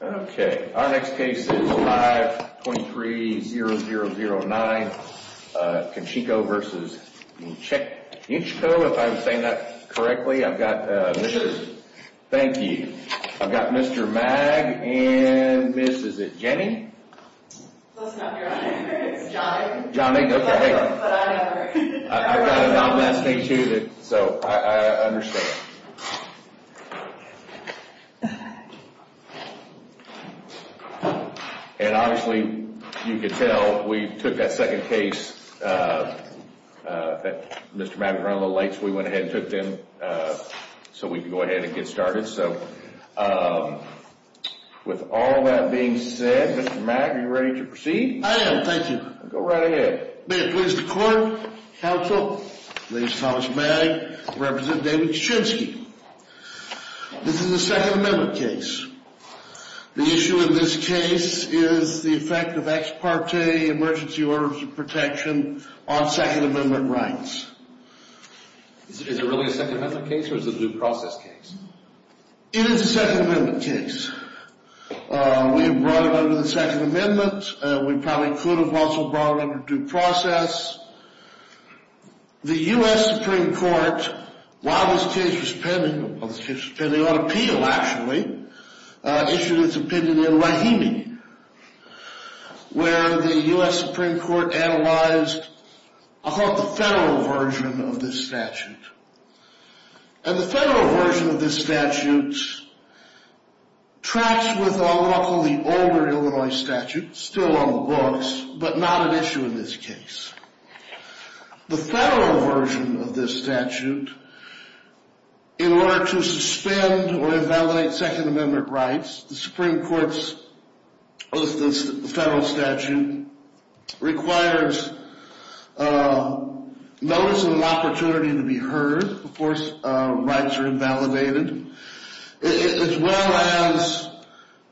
Okay, our next case is 523-0009, Koshinski v. Yenchko. If I'm saying that correctly, I've got Mr. Thank you. I've got Mr. Mag and Miss, is it Jenny? That's not your name. It's Johnny. Johnny, okay. But I know her. I've got a nomenclature, so I understand. And obviously, you can tell we took that second case. Mr. Mag ran a little late, so we went ahead and took them so we could go ahead and get started. So with all that being said, Mr. Mag, are you ready to proceed? I am, thank you. Go right ahead. May it please the court, counsel, ladies and gentlemen, may I represent David Koshinski. This is a Second Amendment case. The issue in this case is the effect of ex parte emergency orders of protection on Second Amendment rights. Is it really a Second Amendment case or is it a due process case? It is a Second Amendment case. We brought it under the Second Amendment. We probably could have also brought it under due process. The U.S. Supreme Court, while this case was pending on appeal, actually, issued its opinion in Rahimi, where the U.S. Supreme Court analyzed the federal version of this statute. And the federal version of this statute tracks with what I'll call the older Illinois statute, still on the books, but not an issue in this case. The federal version of this statute, in order to suspend or invalidate Second Amendment rights, the Supreme Court's federal statute requires notice of an opportunity to be heard before rights are invalidated, as well as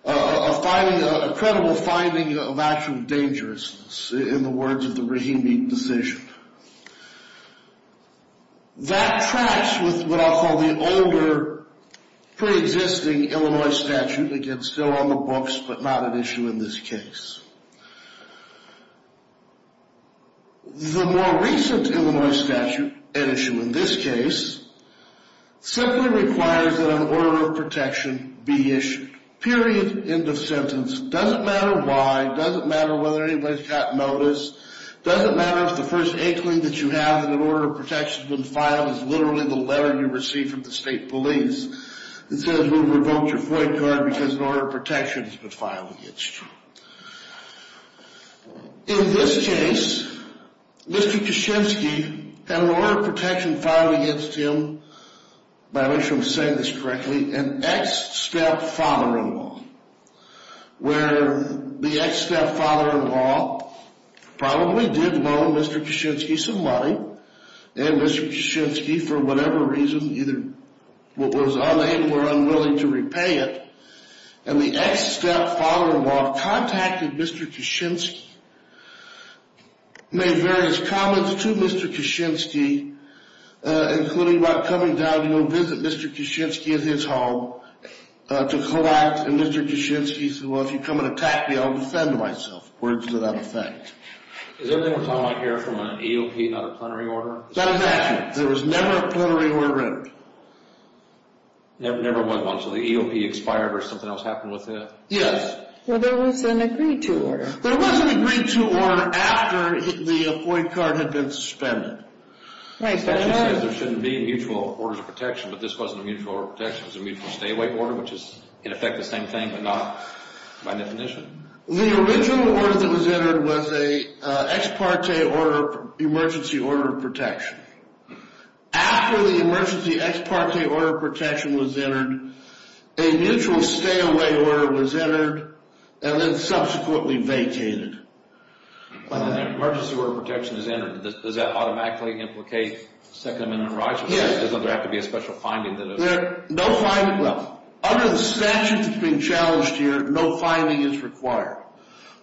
a credible finding of actual dangerousness in the words of the Rahimi decision. That tracks with what I'll call the older, pre-existing Illinois statute, again, still on the books, but not an issue in this case. The more recent Illinois statute, an issue in this case, simply requires that an order of protection be issued. Period. End of sentence. Doesn't matter why. Doesn't matter whether anybody's gotten notice. Doesn't matter if the first inkling that you have that an order of protection's been filed is literally the letter you received from the state police that says we've revoked your point card because an order of protection has been filed against you. In this case, Mr. Kaczynski had an order of protection filed against him, if I'm saying this correctly, an ex-stepfather-in-law, where the ex-stepfather-in-law probably did loan Mr. Kaczynski some money, and Mr. Kaczynski, for whatever reason, either was unable or unwilling to repay it, and the ex-stepfather-in-law contacted Mr. Kaczynski, made various comments to Mr. Kaczynski, including about coming down to go visit Mr. Kaczynski at his home to collapse, and Mr. Kaczynski said, well, if you come and attack me, I'll defend myself. Words without effect. Is everything we're talking about here from an EOP, not a plenary order? That is accurate. There was never a plenary order in it. Never was one, so the EOP expired or something else happened with it? Yes. Well, there was an agreed-to order. There was an agreed-to order after the FOIA card had been suspended. Kaczynski says there shouldn't be mutual orders of protection, but this wasn't a mutual order of protection. It was a mutual stay-away order, which is, in effect, the same thing, but not by definition. The original order that was entered was a ex parte emergency order of protection. After the emergency ex parte order of protection was entered, a mutual stay-away order was entered, and then subsequently vacated. When an emergency order of protection is entered, does that automatically implicate Second Amendment rights? Yes. There doesn't have to be a special finding that it's... No finding, well, under the statute that's being challenged here, no finding is required.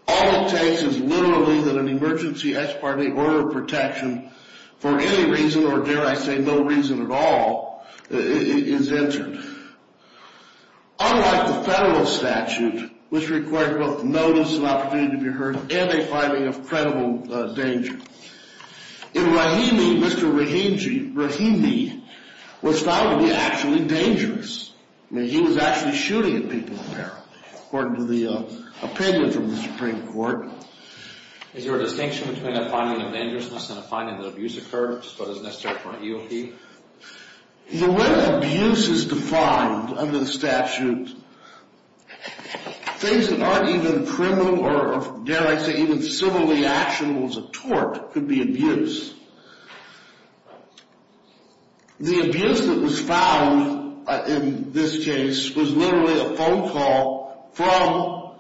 All it takes is literally that an emergency ex parte order of protection for any reason, or dare I say no reason at all, is entered. Unlike the federal statute, which required both notice and opportunity to be heard and a finding of credible danger, in Rahimi, Mr. Rahimi was found to be actually dangerous. I mean, he was actually shooting at people there, according to the opinion from the Supreme Court. Is there a distinction between a finding of dangerousness and a finding that abuse occurred, which is what is necessary for an EOP? The way that abuse is defined under the statute, things that aren't even criminal or, dare I say, even civilly actionable as a tort, could be abuse. The abuse that was found in this case was literally a phone call from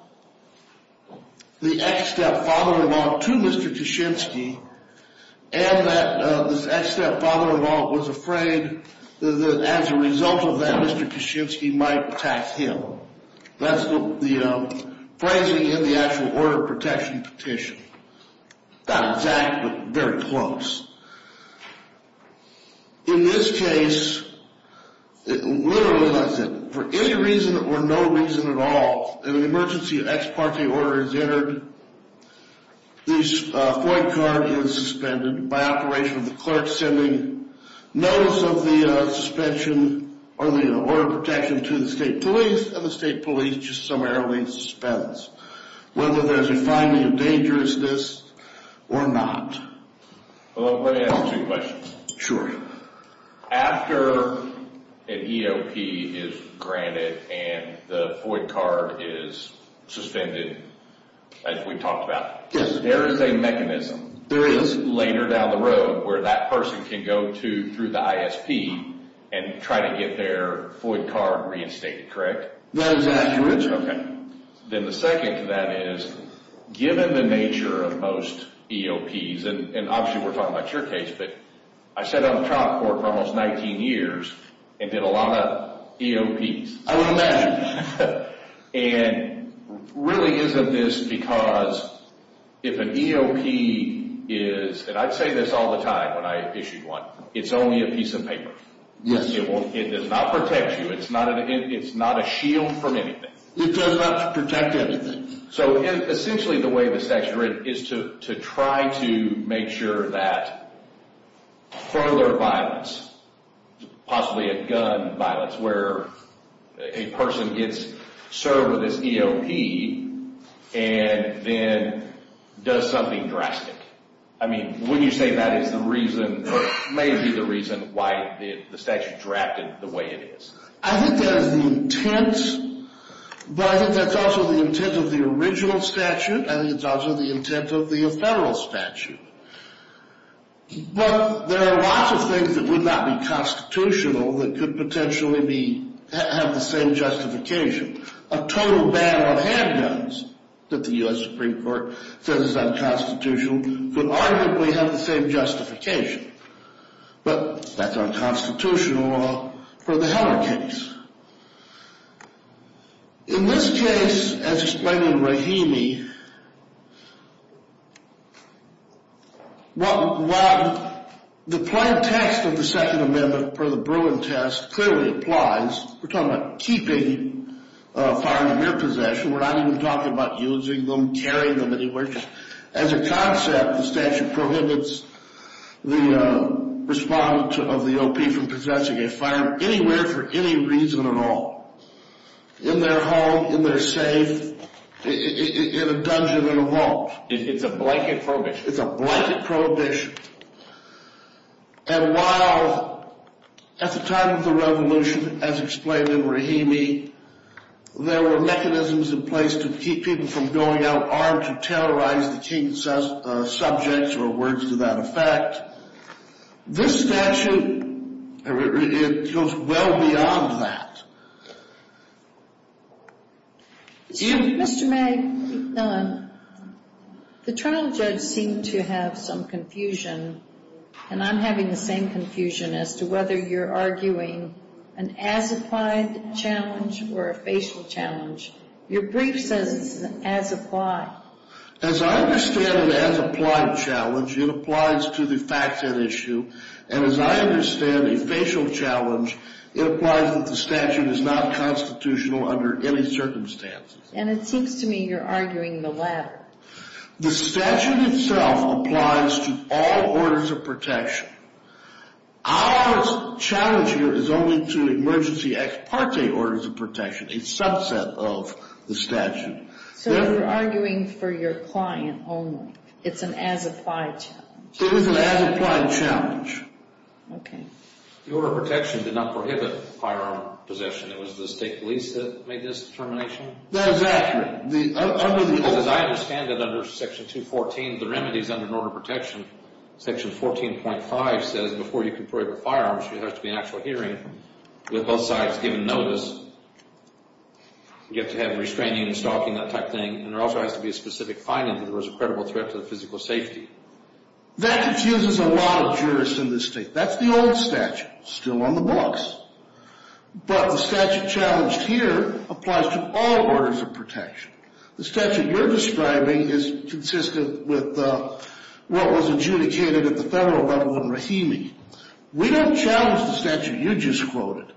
the ex-stepfather-in-law to Mr. Kaczynski, and that this ex-stepfather-in-law was afraid that as a result of that, Mr. Kaczynski might attack him. That's the phrasing in the actual order of protection petition. Not exact, but very close. In this case, literally as I said, for any reason or no reason at all, an emergency ex parte order is entered. The FOID card is suspended by operation of the clerk sending notice of the suspension or the order of protection to the state police, and the state police just summarily suspends whether there's a finding of dangerousness or not. Well, let me ask two questions. Sure. After an EOP is granted and the FOID card is suspended, as we talked about, there is a mechanism later down the road where that person can go through the ISP and try to get their FOID card reinstated, correct? That is accurate. Then the second to that is, given the nature of most EOPs, and obviously we're talking about your case, but I sat on trial court for almost 19 years and did a lot of EOPs. I would imagine. And really isn't this because if an EOP is, and I'd say this all the time when I issued one, it's only a piece of paper. Yes. It does not protect you. It's not a shield from anything. It does not protect anything. So essentially the way the statute is written is to try to make sure that further violence, possibly a gun violence, where a person gets served with this EOP and then does something drastic. I mean, wouldn't you say that is the reason or may be the reason why the statute is drafted the way it is? I think that is the intent, but I think that's also the intent of the original statute. I think it's also the intent of the federal statute. But there are lots of things that would not be constitutional that could potentially have the same justification. A total ban on handguns that the U.S. Supreme Court says is unconstitutional could arguably have the same justification. But that's unconstitutional for the Heller case. In this case, as explained in Rahimi, while the plain text of the Second Amendment for the Bruin test clearly applies, we're talking about keeping firearms in your possession, we're not even talking about using them, carrying them anywhere. As a concept, the statute prohibits the respondent of the EOP from possessing a firearm anywhere for any reason at all. In their home, in their safe, in a dungeon, in a vault. It's a blanket prohibition. It's a blanket prohibition. And while at the time of the revolution, as explained in Rahimi, there were mechanisms in place to keep people from going out armed to terrorize the king's subjects, or words to that effect, this statute, it goes well beyond that. Mr. May, the trial judge seemed to have some confusion, and I'm having the same confusion as to whether you're arguing an as-applied challenge or a facial challenge. Your brief says it's an as-applied. As I understand an as-applied challenge, it applies to the fact and issue. And as I understand a facial challenge, it applies that the statute is not constitutional under any circumstances. And it seems to me you're arguing the latter. The statute itself applies to all orders of protection. Our challenge here is only to emergency ex parte orders of protection, a subset of the statute. So you're arguing for your client only. It's an as-applied challenge. It is an as-applied challenge. Okay. The order of protection did not prohibit firearm possession. It was the state police that made this determination? That is accurate. As I understand it under Section 214, the remedies under an order of protection, Section 14.5 says before you can prohibit firearms, there has to be an actual hearing with both sides given notice. You have to have restraining and stalking, that type of thing. And there also has to be a specific finding that there was a credible threat to the physical safety. That confuses a lot of jurists in this state. That's the old statute still on the books. But the statute challenged here applies to all orders of protection. The statute you're describing is consistent with what was adjudicated at the federal level in Rahimi. We don't challenge the statute you just quoted.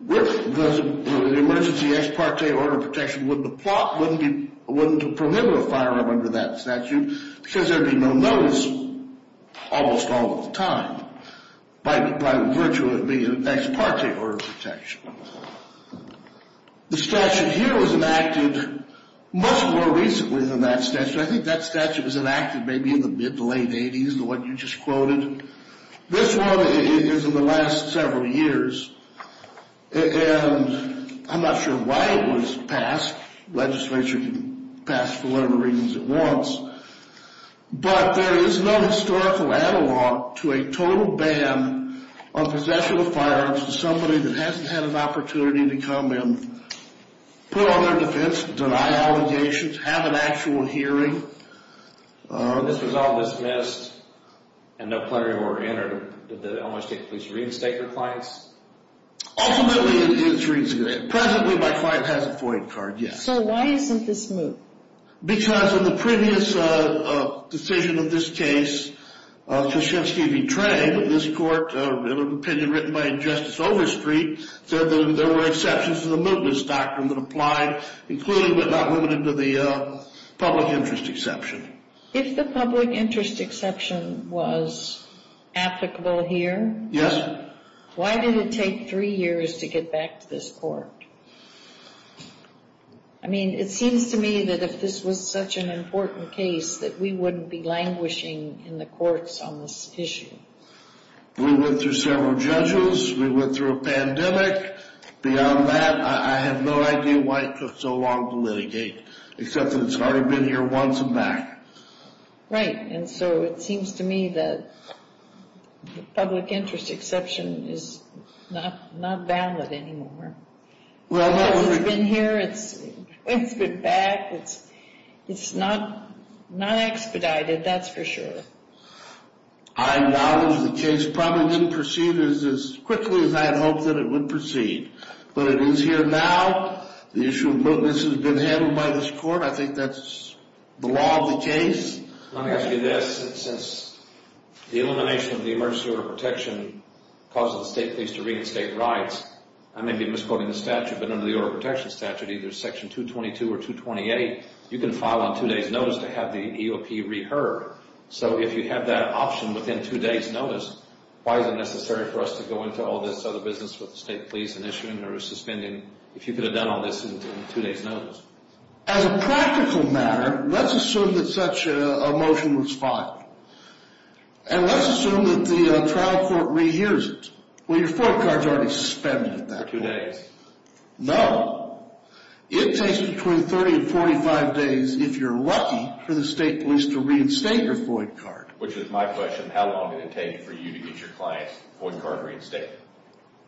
With the emergency ex parte order of protection, the plot wouldn't prohibit a firearm under that statute because there would be no notice almost all of the time by virtue of being an ex parte order of protection. The statute here was enacted much more recently than that statute. I think that statute was enacted maybe in the mid to late 80s, the one you just quoted. This one is in the last several years. And I'm not sure why it was passed. Legislature can pass for whatever reasons it wants. But there is no historical analog to a total ban on possession of firearms to somebody that hasn't had an opportunity to come in, put on their defense, deny allegations, have an actual hearing. This was all dismissed and no plenary were entered. Did the Illinois State Police reinstate your clients? Ultimately it was reinstated. Presently my client has a FOIA card, yes. So why isn't this moved? If the public interest exception was applicable here, why did it take three years to get back to this court? I mean, it seems to me that if this was such an important case that we wouldn't be languishing in the courts on this issue. We went through several judges. We went through a pandemic. Beyond that, I have no idea why it took so long to litigate. Except that it's already been here once and back. Right. And so it seems to me that the public interest exception is not valid anymore. It's been here. It's been back. It's not expedited, that's for sure. I acknowledge the case probably didn't proceed as quickly as I had hoped that it would proceed. But it is here now. The issue has been handled by this court. I think that's the law of the case. Let me ask you this. Since the elimination of the emergency order of protection causes the state police to reinstate rights, I may be misquoting the statute, but under the order of protection statute, either section 222 or 228, you can file on two days' notice to have the EOP reheard. So if you have that option within two days' notice, why is it necessary for us to go into all this other business with the state police and issue a notice of suspending? I mean, if you could have done all this in two days' notice. As a practical matter, let's assume that such a motion was filed. And let's assume that the trial court rehears it. Well, your FOID card is already suspended at that point. For two days. No. It takes between 30 and 45 days, if you're lucky, for the state police to reinstate your FOID card. Which is my question. How long did it take for you to get your client's FOID card reinstated?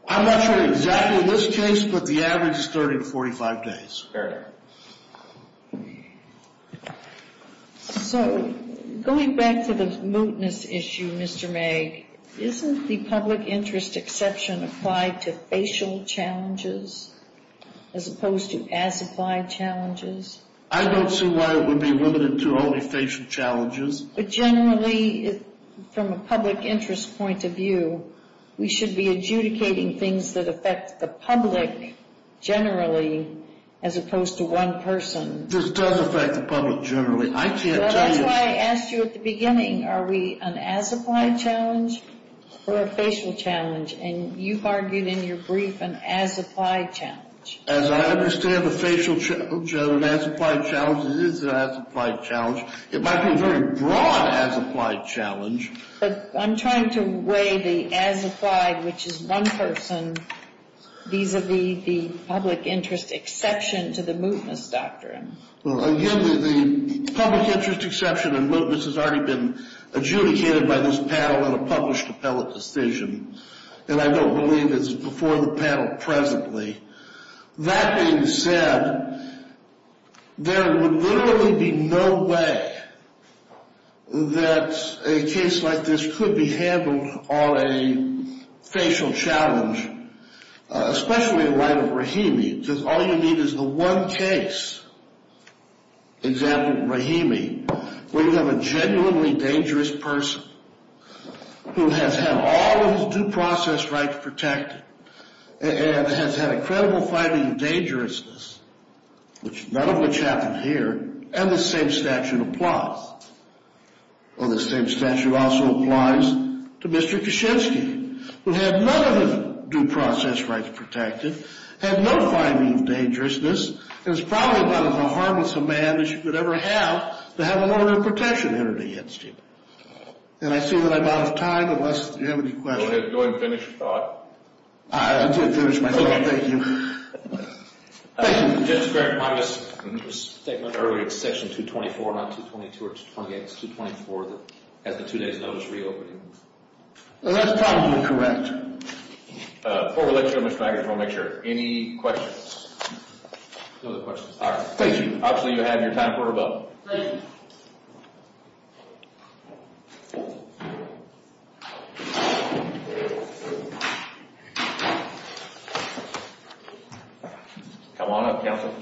I'm not sure exactly in this case, but the average is 30 to 45 days. Fair enough. So going back to the mootness issue, Mr. Magg, isn't the public interest exception applied to facial challenges as opposed to as-applied challenges? I don't see why it would be limited to only facial challenges. But generally, from a public interest point of view, we should be adjudicating things that affect the public generally as opposed to one person. This does affect the public generally. I can't tell you. Well, that's why I asked you at the beginning. Are we an as-applied challenge or a facial challenge? And you argued in your brief an as-applied challenge. As I understand the facial challenge, an as-applied challenge, it is an as-applied challenge. It might be a very broad as-applied challenge. But I'm trying to weigh the as-applied, which is one person, vis-a-vis the public interest exception to the mootness doctrine. Well, again, the public interest exception in mootness has already been adjudicated by this panel in a published appellate decision. And I don't believe it's before the panel presently. That being said, there would literally be no way that a case like this could be handled on a facial challenge, especially in light of Rahimi, because all you need is the one case, example, Rahimi, where you have a genuinely dangerous person who has had all of his due process rights protected and has had a credible finding of dangerousness, none of which happened here, and the same statute applies. Well, the same statute also applies to Mr. Kishinsky, who had none of his due process rights protected, had no finding of dangerousness, and was probably about as harmless a man as you could ever have to have a warrant of protection entered against him. And I see that I'm out of time, unless you have any questions. Go ahead. Go ahead and finish your thought. I'll finish my thought. Okay. Thank you. Thank you. Just a quick comment. There was a statement earlier, section 224, not 222 or 228. It's 224 that has the two days notice reopening. Well, that's probably correct. Before we let you go, Mr. McIntosh, we want to make sure. Any questions? No other questions. All right. Thank you. Obviously, you have your time quarter vote. Thank you. Come on up, counsel.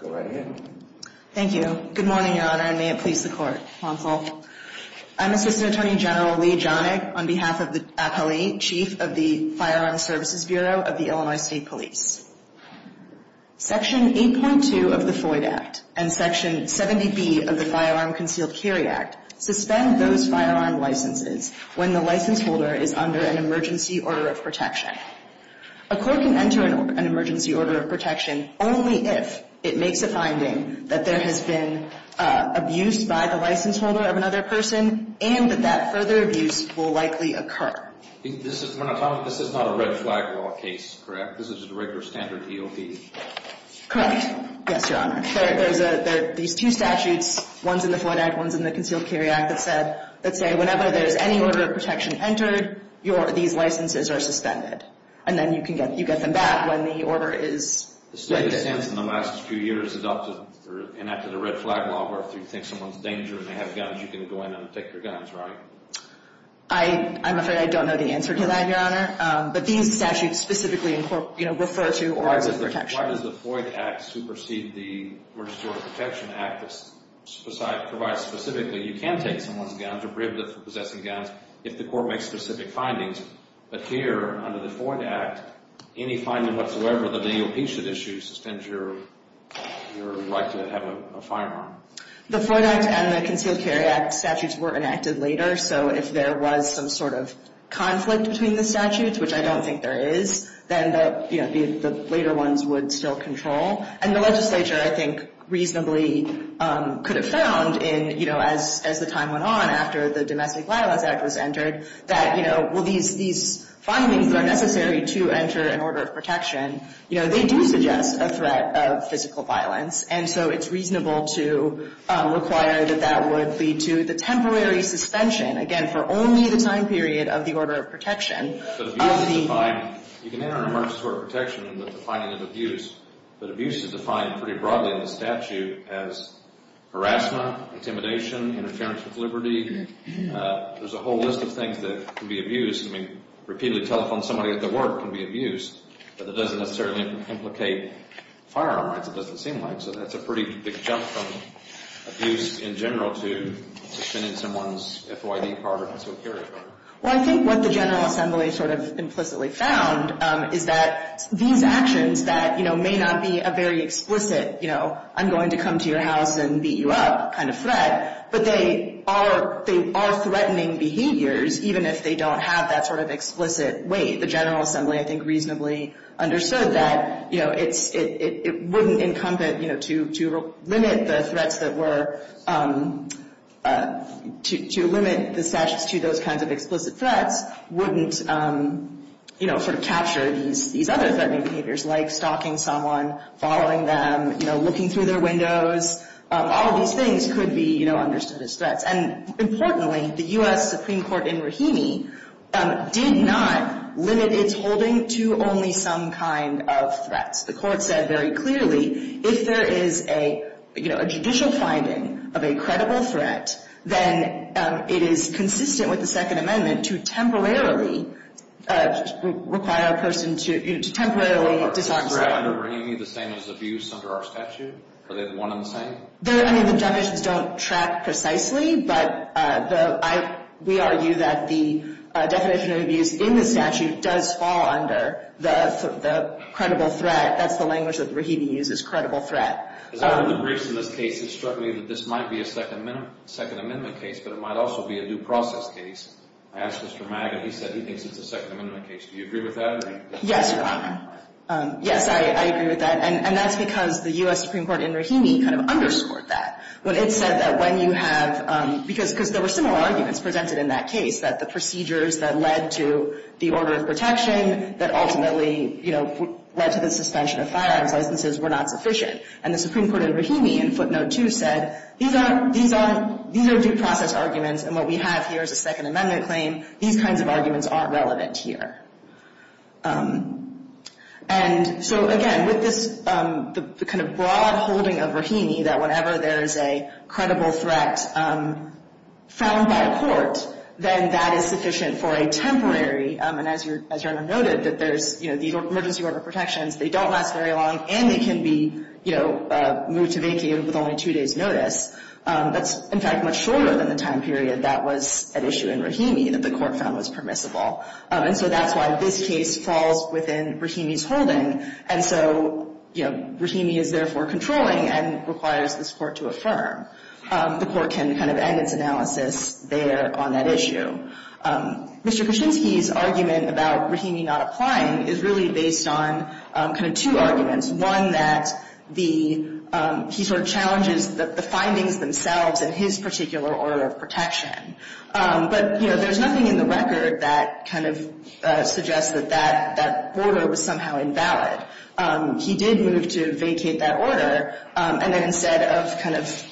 Go right ahead. Thank you. Good morning, Your Honor, and may it please the Court. Counsel. I'm Assistant Attorney General Leah Jonig on behalf of the appellee, Chief of the Firearm Services Bureau of the Illinois State Police. Section 8.2 of the Floyd Act and Section 70B of the Firearm Concealed Carry Act suspend those firearm licenses when the license holder is under an emergency order of protection. A court can enter an emergency order of protection only if it makes a finding that there has been abuse by the license holder of another person and that that further abuse will likely occur. This is not a red flag law case, correct? This is a regular standard EOP. Correct. Yes, Your Honor. There's two statutes, one's in the Floyd Act, one's in the Concealed Carry Act, that say whenever there's any order of protection entered, these licenses are suspended. And then you get them back when the order is. The state has, in the last few years, adopted or enacted a red flag law where if you think someone's in danger and they have guns, you can go in and take their guns, right? I'm afraid I don't know the answer to that, Your Honor. But these statutes specifically refer to orders of protection. Why does the Floyd Act supersede the Emergency Order of Protection Act that provides specifically you can take someone's guns or prohibit them from possessing guns if the court makes specific findings, but here under the Floyd Act, any finding whatsoever that the EOP should issue suspends your right to have a firearm? The Floyd Act and the Concealed Carry Act statutes were enacted later, so if there was some sort of conflict between the statutes, which I don't think there is, then the later ones would still control. And the legislature, I think, reasonably could have found as the time went on, after the Domestic Violence Act was entered, that, you know, well, these findings are necessary to enter an order of protection. You know, they do suggest a threat of physical violence, and so it's reasonable to require that that would lead to the temporary suspension, again, for only the time period of the order of protection. You can enter an emergency order of protection in the defining of abuse, but abuse is defined pretty broadly in the statute as harassment, intimidation, interference with liberty. There's a whole list of things that can be abused. I mean, repeatedly telephone somebody at their work can be abused, but it doesn't necessarily implicate firearm rights, it doesn't seem like. So that's a pretty big jump from abuse in general to suspending someone's FYD card or concealed carry card. Well, I think what the General Assembly sort of implicitly found is that these actions that, you know, may not be a very explicit, you know, I'm going to come to your house and beat you up kind of threat, but they are threatening behaviors, even if they don't have that sort of explicit weight. The General Assembly, I think, reasonably understood that, you know, it wouldn't incumbent, you know, to limit the threats that were to limit the statutes to those kinds of explicit threats wouldn't, you know, sort of capture these other threatening behaviors like stalking someone, following them, you know, looking through their windows. All of these things could be, you know, understood as threats. And importantly, the U.S. Supreme Court in Rahimi did not limit its holding to only some kind of threats. The court said very clearly if there is a, you know, a judicial finding of a credible threat, then it is consistent with the Second Amendment to temporarily require a person to temporarily disobey. Are the threats that are under Rahimi the same as abuse under our statute? Are they one and the same? I mean, the definitions don't track precisely, but we argue that the definition of abuse in the statute does fall under the credible threat. That's the language that Rahimi uses, credible threat. As I read the briefs in this case, it struck me that this might be a Second Amendment case, but it might also be a due process case. I asked Mr. Maga, he said he thinks it's a Second Amendment case. Do you agree with that? Yes, Your Honor. Yes, I agree with that. And that's because the U.S. Supreme Court in Rahimi kind of underscored that. But it said that when you have, because there were similar arguments presented in that case, that the procedures that led to the order of protection that ultimately, you know, led to the suspension of firearms licenses were not sufficient. And the Supreme Court in Rahimi in footnote 2 said these are due process arguments, and what we have here is a Second Amendment claim. These kinds of arguments aren't relevant here. And so, again, with this kind of broad holding of Rahimi, that whenever there is a credible threat found by a court, then that is sufficient for a temporary, and as Your Honor noted, that there's the emergency order of protections, they don't last very long, and they can be moved to vacate with only two days' notice. That's, in fact, much shorter than the time period that was at issue in Rahimi that the court found was permissible. And so that's why this case falls within Rahimi's holding. And so, you know, Rahimi is therefore controlling and requires this Court to affirm. The Court can kind of end its analysis there on that issue. Mr. Kuczynski's argument about Rahimi not applying is really based on kind of two arguments, one that the, he sort of challenges the findings themselves in his particular order of protection. But, you know, there's nothing in the record that kind of suggests that that border was somehow invalid. He did move to vacate that order, and then instead of kind of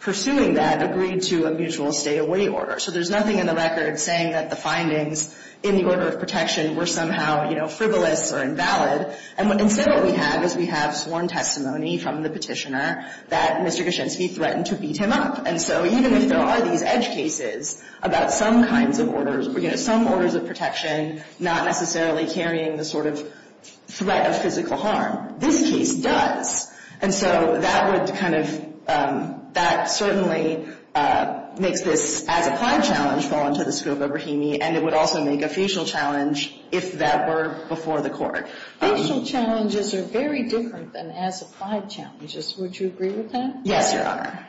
pursuing that, agreed to a mutual stay-away order. So there's nothing in the record saying that the findings in the order of protection were somehow, you know, frivolous or invalid. And instead what we have is we have sworn testimony from the Petitioner that Mr. Kuczynski threatened to beat him up. And so even if there are these edge cases about some kinds of orders, you know, some orders of protection not necessarily carrying the sort of threat of physical harm, this case does. And so that would kind of, that certainly makes this as-applied challenge fall into the scope of Rahimi, and it would also make a facial challenge if that were before the Court. Facial challenges are very different than as-applied challenges. Would you agree with that? Yes, Your Honor.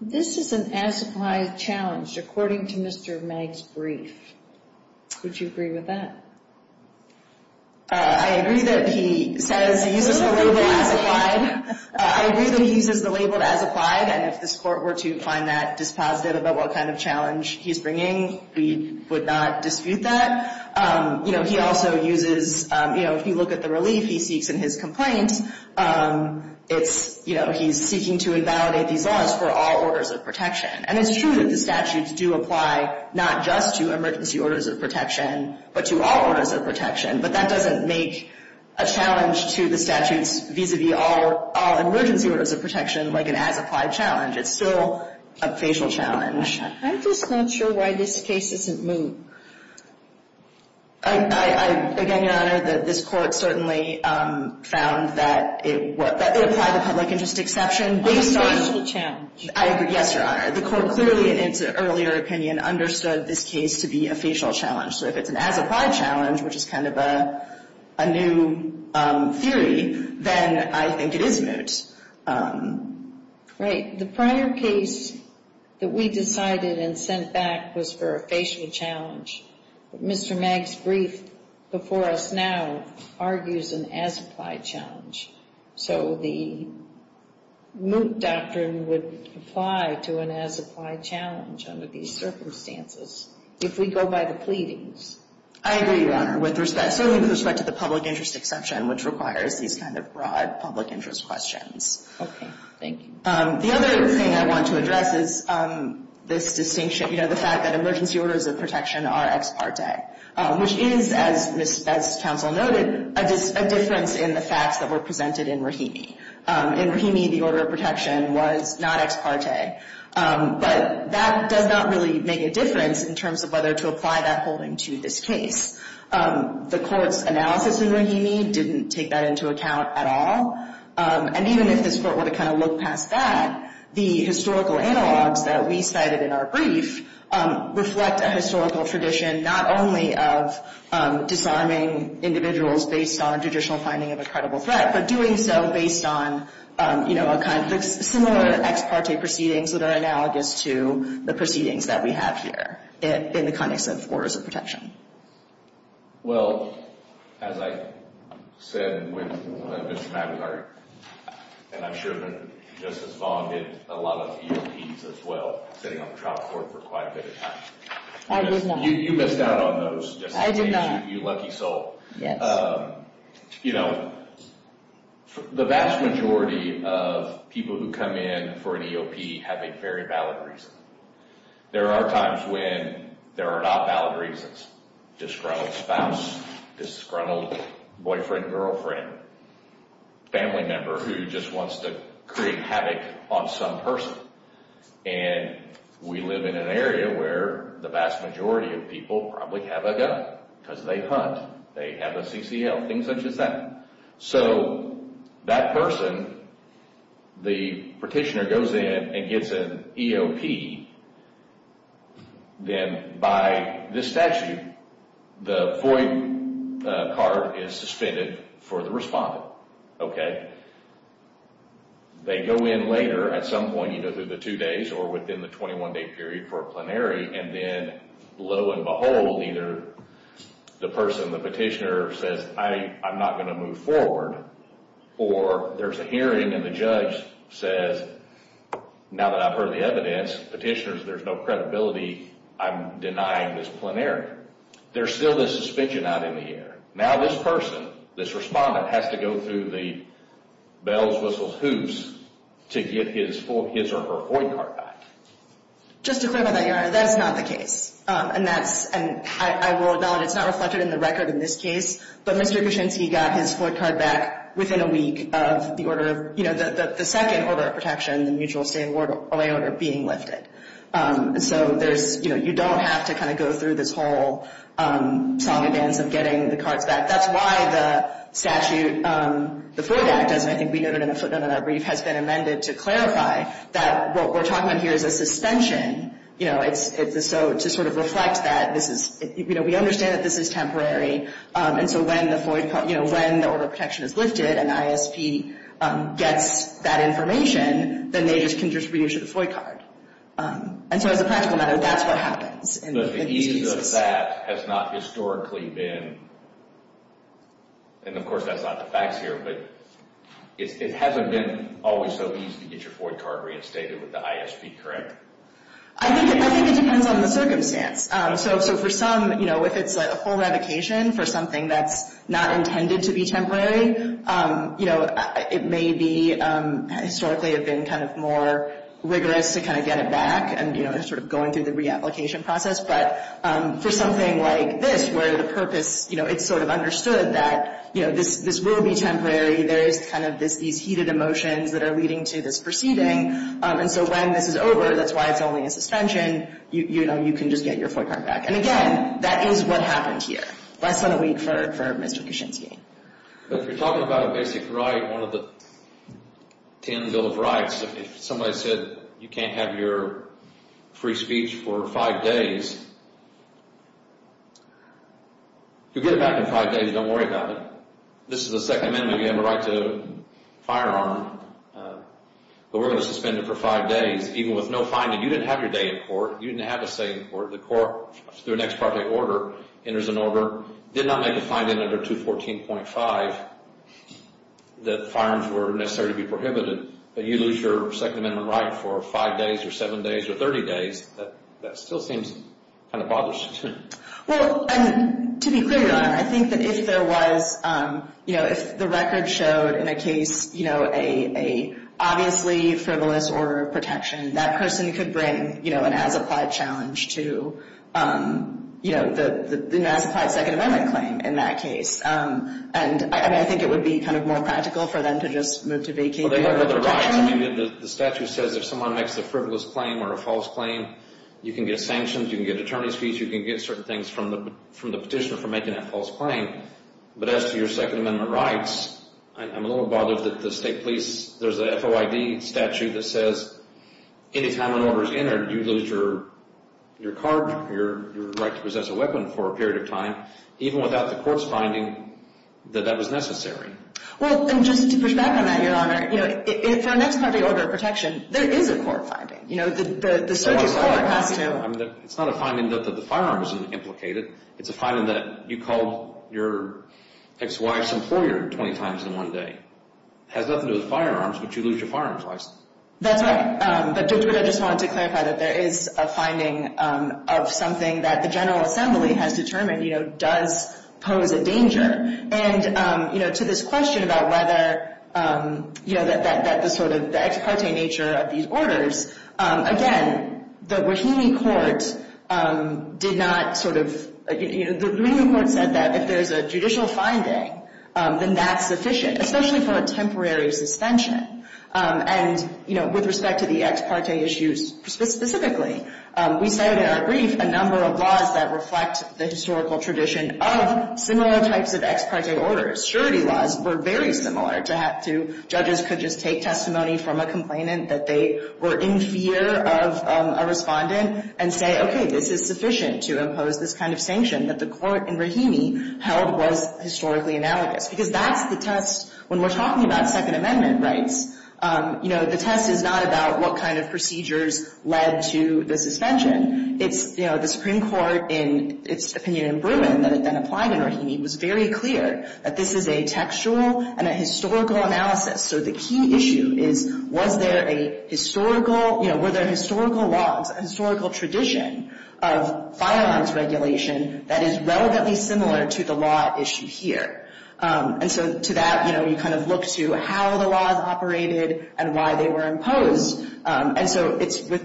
This is an as-applied challenge according to Mr. Magg's brief. Would you agree with that? I agree that he says he uses the label as-applied. I agree that he uses the label as-applied, and if this Court were to find that dispositive about what kind of challenge he's bringing, we would not dispute that. You know, he also uses, you know, if you look at the relief he seeks in his case, he's seeking to invalidate these laws for all orders of protection. And it's true that the statutes do apply not just to emergency orders of protection, but to all orders of protection. But that doesn't make a challenge to the statutes vis-a-vis all emergency orders of protection like an as-applied challenge. It's still a facial challenge. I'm just not sure why this case isn't moved. Again, Your Honor, this Court certainly found that it applied the public interest exception based on. On a facial challenge. I agree. Yes, Your Honor. The Court clearly, in its earlier opinion, understood this case to be a facial challenge. So if it's an as-applied challenge, which is kind of a new theory, then I think it is moot. Right. The prior case that we decided and sent back was for a facial challenge. But Mr. Magg's brief before us now argues an as-applied challenge. So the moot doctrine would apply to an as-applied challenge under these circumstances if we go by the pleadings. I agree, Your Honor, with respect to the public interest exception, which requires these kind of broad public interest questions. Okay. Thank you. The other thing I want to address is this distinction, you know, the fact that emergency orders of protection are ex parte, which is, as counsel noted, a difference in the facts that were presented in Rahimi. In Rahimi, the order of protection was not ex parte. But that does not really make a difference in terms of whether to apply that holding to this case. The Court's analysis in Rahimi didn't take that into account at all. And even if this Court were to kind of look past that, the historical analogs that we cited in our brief reflect a historical tradition not only of disarming individuals based on a judicial finding of a credible threat, but doing so based on, you know, a kind of similar ex parte proceedings that are analogous to the proceedings that we have here in the context of orders of protection. Well, as I said with Mr. McIntyre, and I'm sure that Justice Vaughn did a lot of EOPs as well, sitting on the trial court for quite a bit of time. I did not. You missed out on those. I did not. You lucky soul. Yes. You know, the vast majority of people who come in for an EOP have a very valid reason. There are times when there are not valid reasons. Disgruntled spouse, disgruntled boyfriend, girlfriend, family member who just wants to create havoc on some person. And we live in an area where the vast majority of people probably have a gun because they hunt, they have a CCL, things such as that. So that person, the petitioner goes in and gets an EOP. Then by this statute, the FOIA card is suspended for the respondent, okay? They go in later at some point, you know, through the two days or within the 21-day period for a plenary, and then lo and behold, either the person, the petitioner says, I'm not going to move forward, or there's a hearing and the judge says, now that I've heard the evidence, petitioners, there's no credibility, I'm denying this plenary. There's still this suspension out in the air. Now this person, this respondent, has to go through the bells, whistles, hoops to get his or her FOIA card back. Just to clarify that, Your Honor, that is not the case. And I will acknowledge it's not reflected in the record in this case, but Mr. Kuczynski got his FOIA card back within a week of the order of, you know, the second order of protection, the mutual stay away order being lifted. So you don't have to kind of go through this whole song and dance of getting the cards back. That's why the statute, the FOIA act, as I think we noted in a footnote in our brief, has been amended to clarify that what we're talking about here is a suspension, you know, to sort of reflect that this is, you know, we understand that this is temporary, and so when the FOIA card, you know, when the order of protection is lifted and ISP gets that information, then they can just reissue the FOIA card. And so as a practical matter, that's what happens. But the ease of that has not historically been, and of course that's not the facts here, but it hasn't been always so easy to get your FOIA card reinstated with the ISP, correct? I think it depends on the circumstance. So for some, you know, if it's a full revocation for something that's not intended to be temporary, you know, it may be historically have been kind of more rigorous to kind of get it back and, you know, sort of going through the reapplication process. But for something like this where the purpose, you know, it's sort of understood that, you know, this will be temporary, there is kind of these heated emotions that are leading to this proceeding. And so when this is over, that's why it's only a suspension, you know, you can just get your FOIA card back. And again, that is what happened here. Less than a week for Mr. Kuczynski. But if you're talking about a basic right, one of the ten Bill of Rights, if somebody said you can't have your free speech for five days, you'll get it back in five days. Don't worry about it. This is a Second Amendment. You have a right to a firearm. But we're going to suspend it for five days, even with no finding. You didn't have your day in court. You didn't have to stay in court. The court, through an ex parte order, enters an order, did not make a finding under 214.5 that firearms were necessary to be prohibited. But you lose your Second Amendment right for five days or seven days or 30 days, that still seems kind of bothersome. Well, and to be clear, Your Honor, I think that if there was, you know, if the record showed in a case, you know, a obviously frivolous order of protection, that person could bring, you know, an as-applied challenge to, you know, an as-applied Second Amendment claim in that case. And I think it would be kind of more practical for them to just move to vacate their protection. Well, they have other rights. I mean, the statute says if someone makes a frivolous claim or a false claim, you can get sanctions, you can get attorney's fees, you can get certain things from the petitioner for making that false claim. But as to your Second Amendment rights, I'm a little bothered that the state police, there's a FOID statute that says anytime an order is entered, you lose your card, your right to possess a weapon for a period of time, even without the court's finding that that was necessary. Well, and just to push back on that, Your Honor, you know, for an ex-patriot order of protection, there is a court finding. You know, the circuit court has to. I mean, it's not a finding that the firearm is implicated. It's a finding that you called your ex-wife's employer 20 times in one day. It has nothing to do with firearms, but you lose your firearms license. That's right. But I just wanted to clarify that there is a finding of something that the General Assembly has determined, you know, does pose a danger. And, you know, to this question about whether, you know, that the sort of ex-parte nature of these orders, again, the Rahimi court did not sort of, you know, the Rahimi court said that if there's a judicial finding, then that's sufficient, especially for a temporary suspension. And, you know, with respect to the ex-parte issues specifically, we cited in our brief a number of laws that reflect the historical tradition of similar types of ex-parte orders. Surety laws were very similar to judges could just take testimony from a complainant that they were in fear of a respondent and say, okay, this is sufficient to impose this kind of sanction that the court in Rahimi held was historically analogous. Because that's the test. When we're talking about Second Amendment rights, you know, the test is not about what kind of procedures led to the suspension. It's, you know, the Supreme Court in its opinion in Bruin that it then applied in Rahimi was very clear that this is a textual and a historical analysis. So the key issue is, was there a historical, you know, were there historical laws, historical tradition of firearms regulation that is relevantly similar to the law issue here? And so to that, you know, you kind of look to how the law is operated and why they were imposed. And so it's with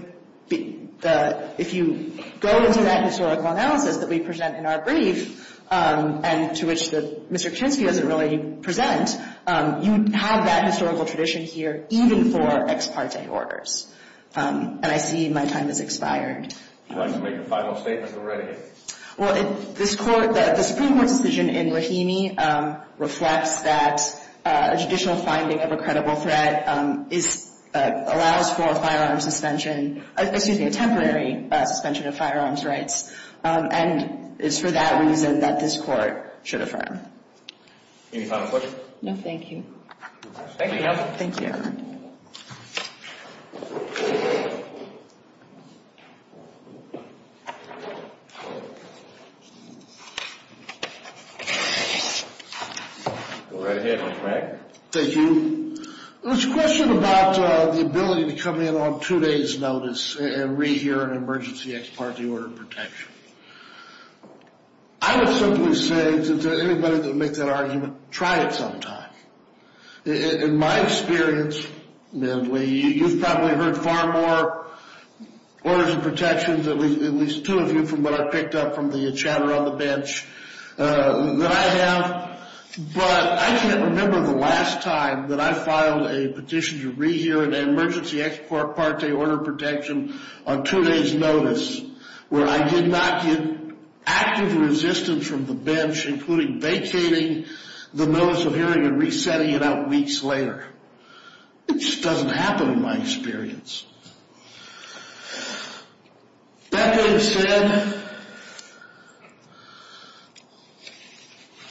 the – if you go into that historical analysis that we present in our brief and to which Mr. Kuczynski doesn't really present, you have that historical tradition here even for ex-parte orders. And I see my time has expired. Would you like to make a final statement already? Well, this court – the Supreme Court decision in Rahimi reflects that a judicial finding of a credible threat allows for a firearm suspension – excuse me, a temporary suspension of firearms rights and it's for that reason that this court should affirm. Any final questions? No, thank you. Thank you. Thank you. Thank you. Go right ahead, Mr. Wagner. Thank you. There was a question about the ability to come in on two days' notice and rehear an emergency ex-parte order of protection. I would simply say to anybody that would make that argument, try it sometime. In my experience, you've probably heard far more orders of protections, at least two of you, from what I picked up from the chatter on the bench that I have. But I can't remember the last time that I filed a petition to rehear an emergency ex-parte order of protection on two days' notice where I did not get active resistance from the bench, including vacating the notice of hearing and resetting it out weeks later. It just doesn't happen in my experience. That being said,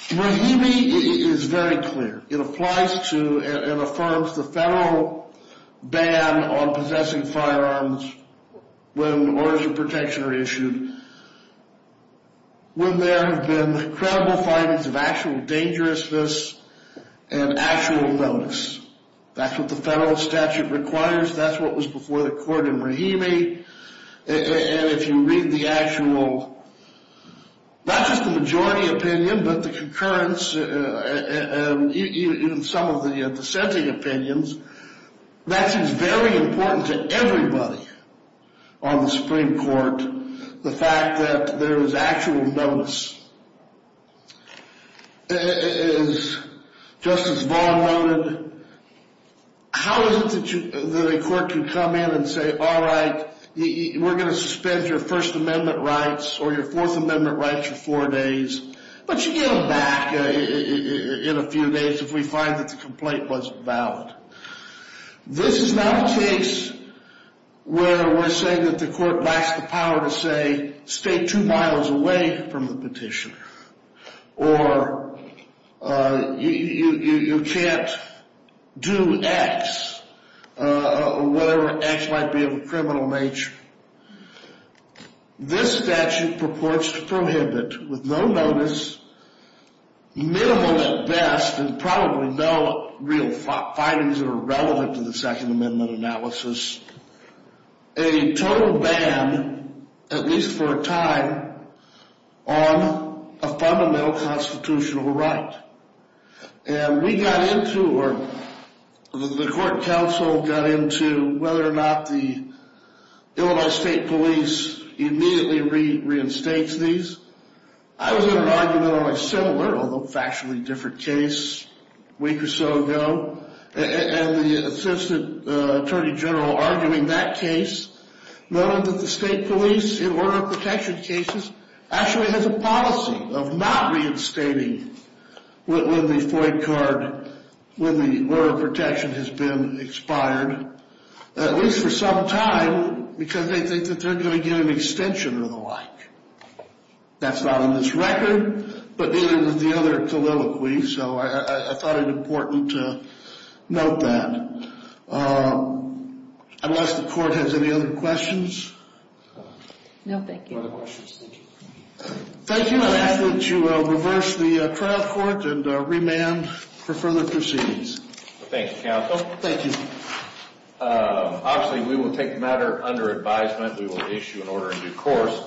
Rahimi is very clear. It applies to and affirms the federal ban on possessing firearms when orders of protection are issued when there have been credible findings of actual dangerousness and actual notice. That's what the federal statute requires. That's what was before the court in Rahimi. And if you read the actual, not just the majority opinion, but the concurrence in some of the dissenting opinions, that is very important to everybody on the Supreme Court, the fact that there is actual notice. As Justice Vaughn noted, how is it that a court can come in and say, all right, we're going to suspend your First Amendment rights or your Fourth Amendment rights for four days, but you get them back in a few days if we find that the complaint wasn't valid? This is not a case where we're saying that the court lacks the power to say, stay two miles away from the petition, or you can't do X, or whatever X might be of a criminal nature. This statute purports to prohibit, with no notice, minimal at best, and probably no real findings that are relevant to the Second Amendment analysis, a total ban, at least for a time, on a fundamental constitutional right. And we got into, or the court counsel got into, whether or not the Illinois State Police immediately reinstates these. I was in an argument on a similar, although factually different case a week or so ago, and the Assistant Attorney General arguing that case, noting that the state police, in order of protection cases, actually has a policy of not reinstating when the FOIA card, when the order of protection has been expired, at least for some time, because they think that they're going to get an extension or the like. That's not on this record, but neither is the other colloquy, so I thought it important to note that. Unless the court has any other questions? No, thank you. Thank you. I ask that you reverse the trial court and remand for further proceedings. Thank you, counsel. Thank you. Obviously, we will take the matter under advisement. We will issue an order in due course.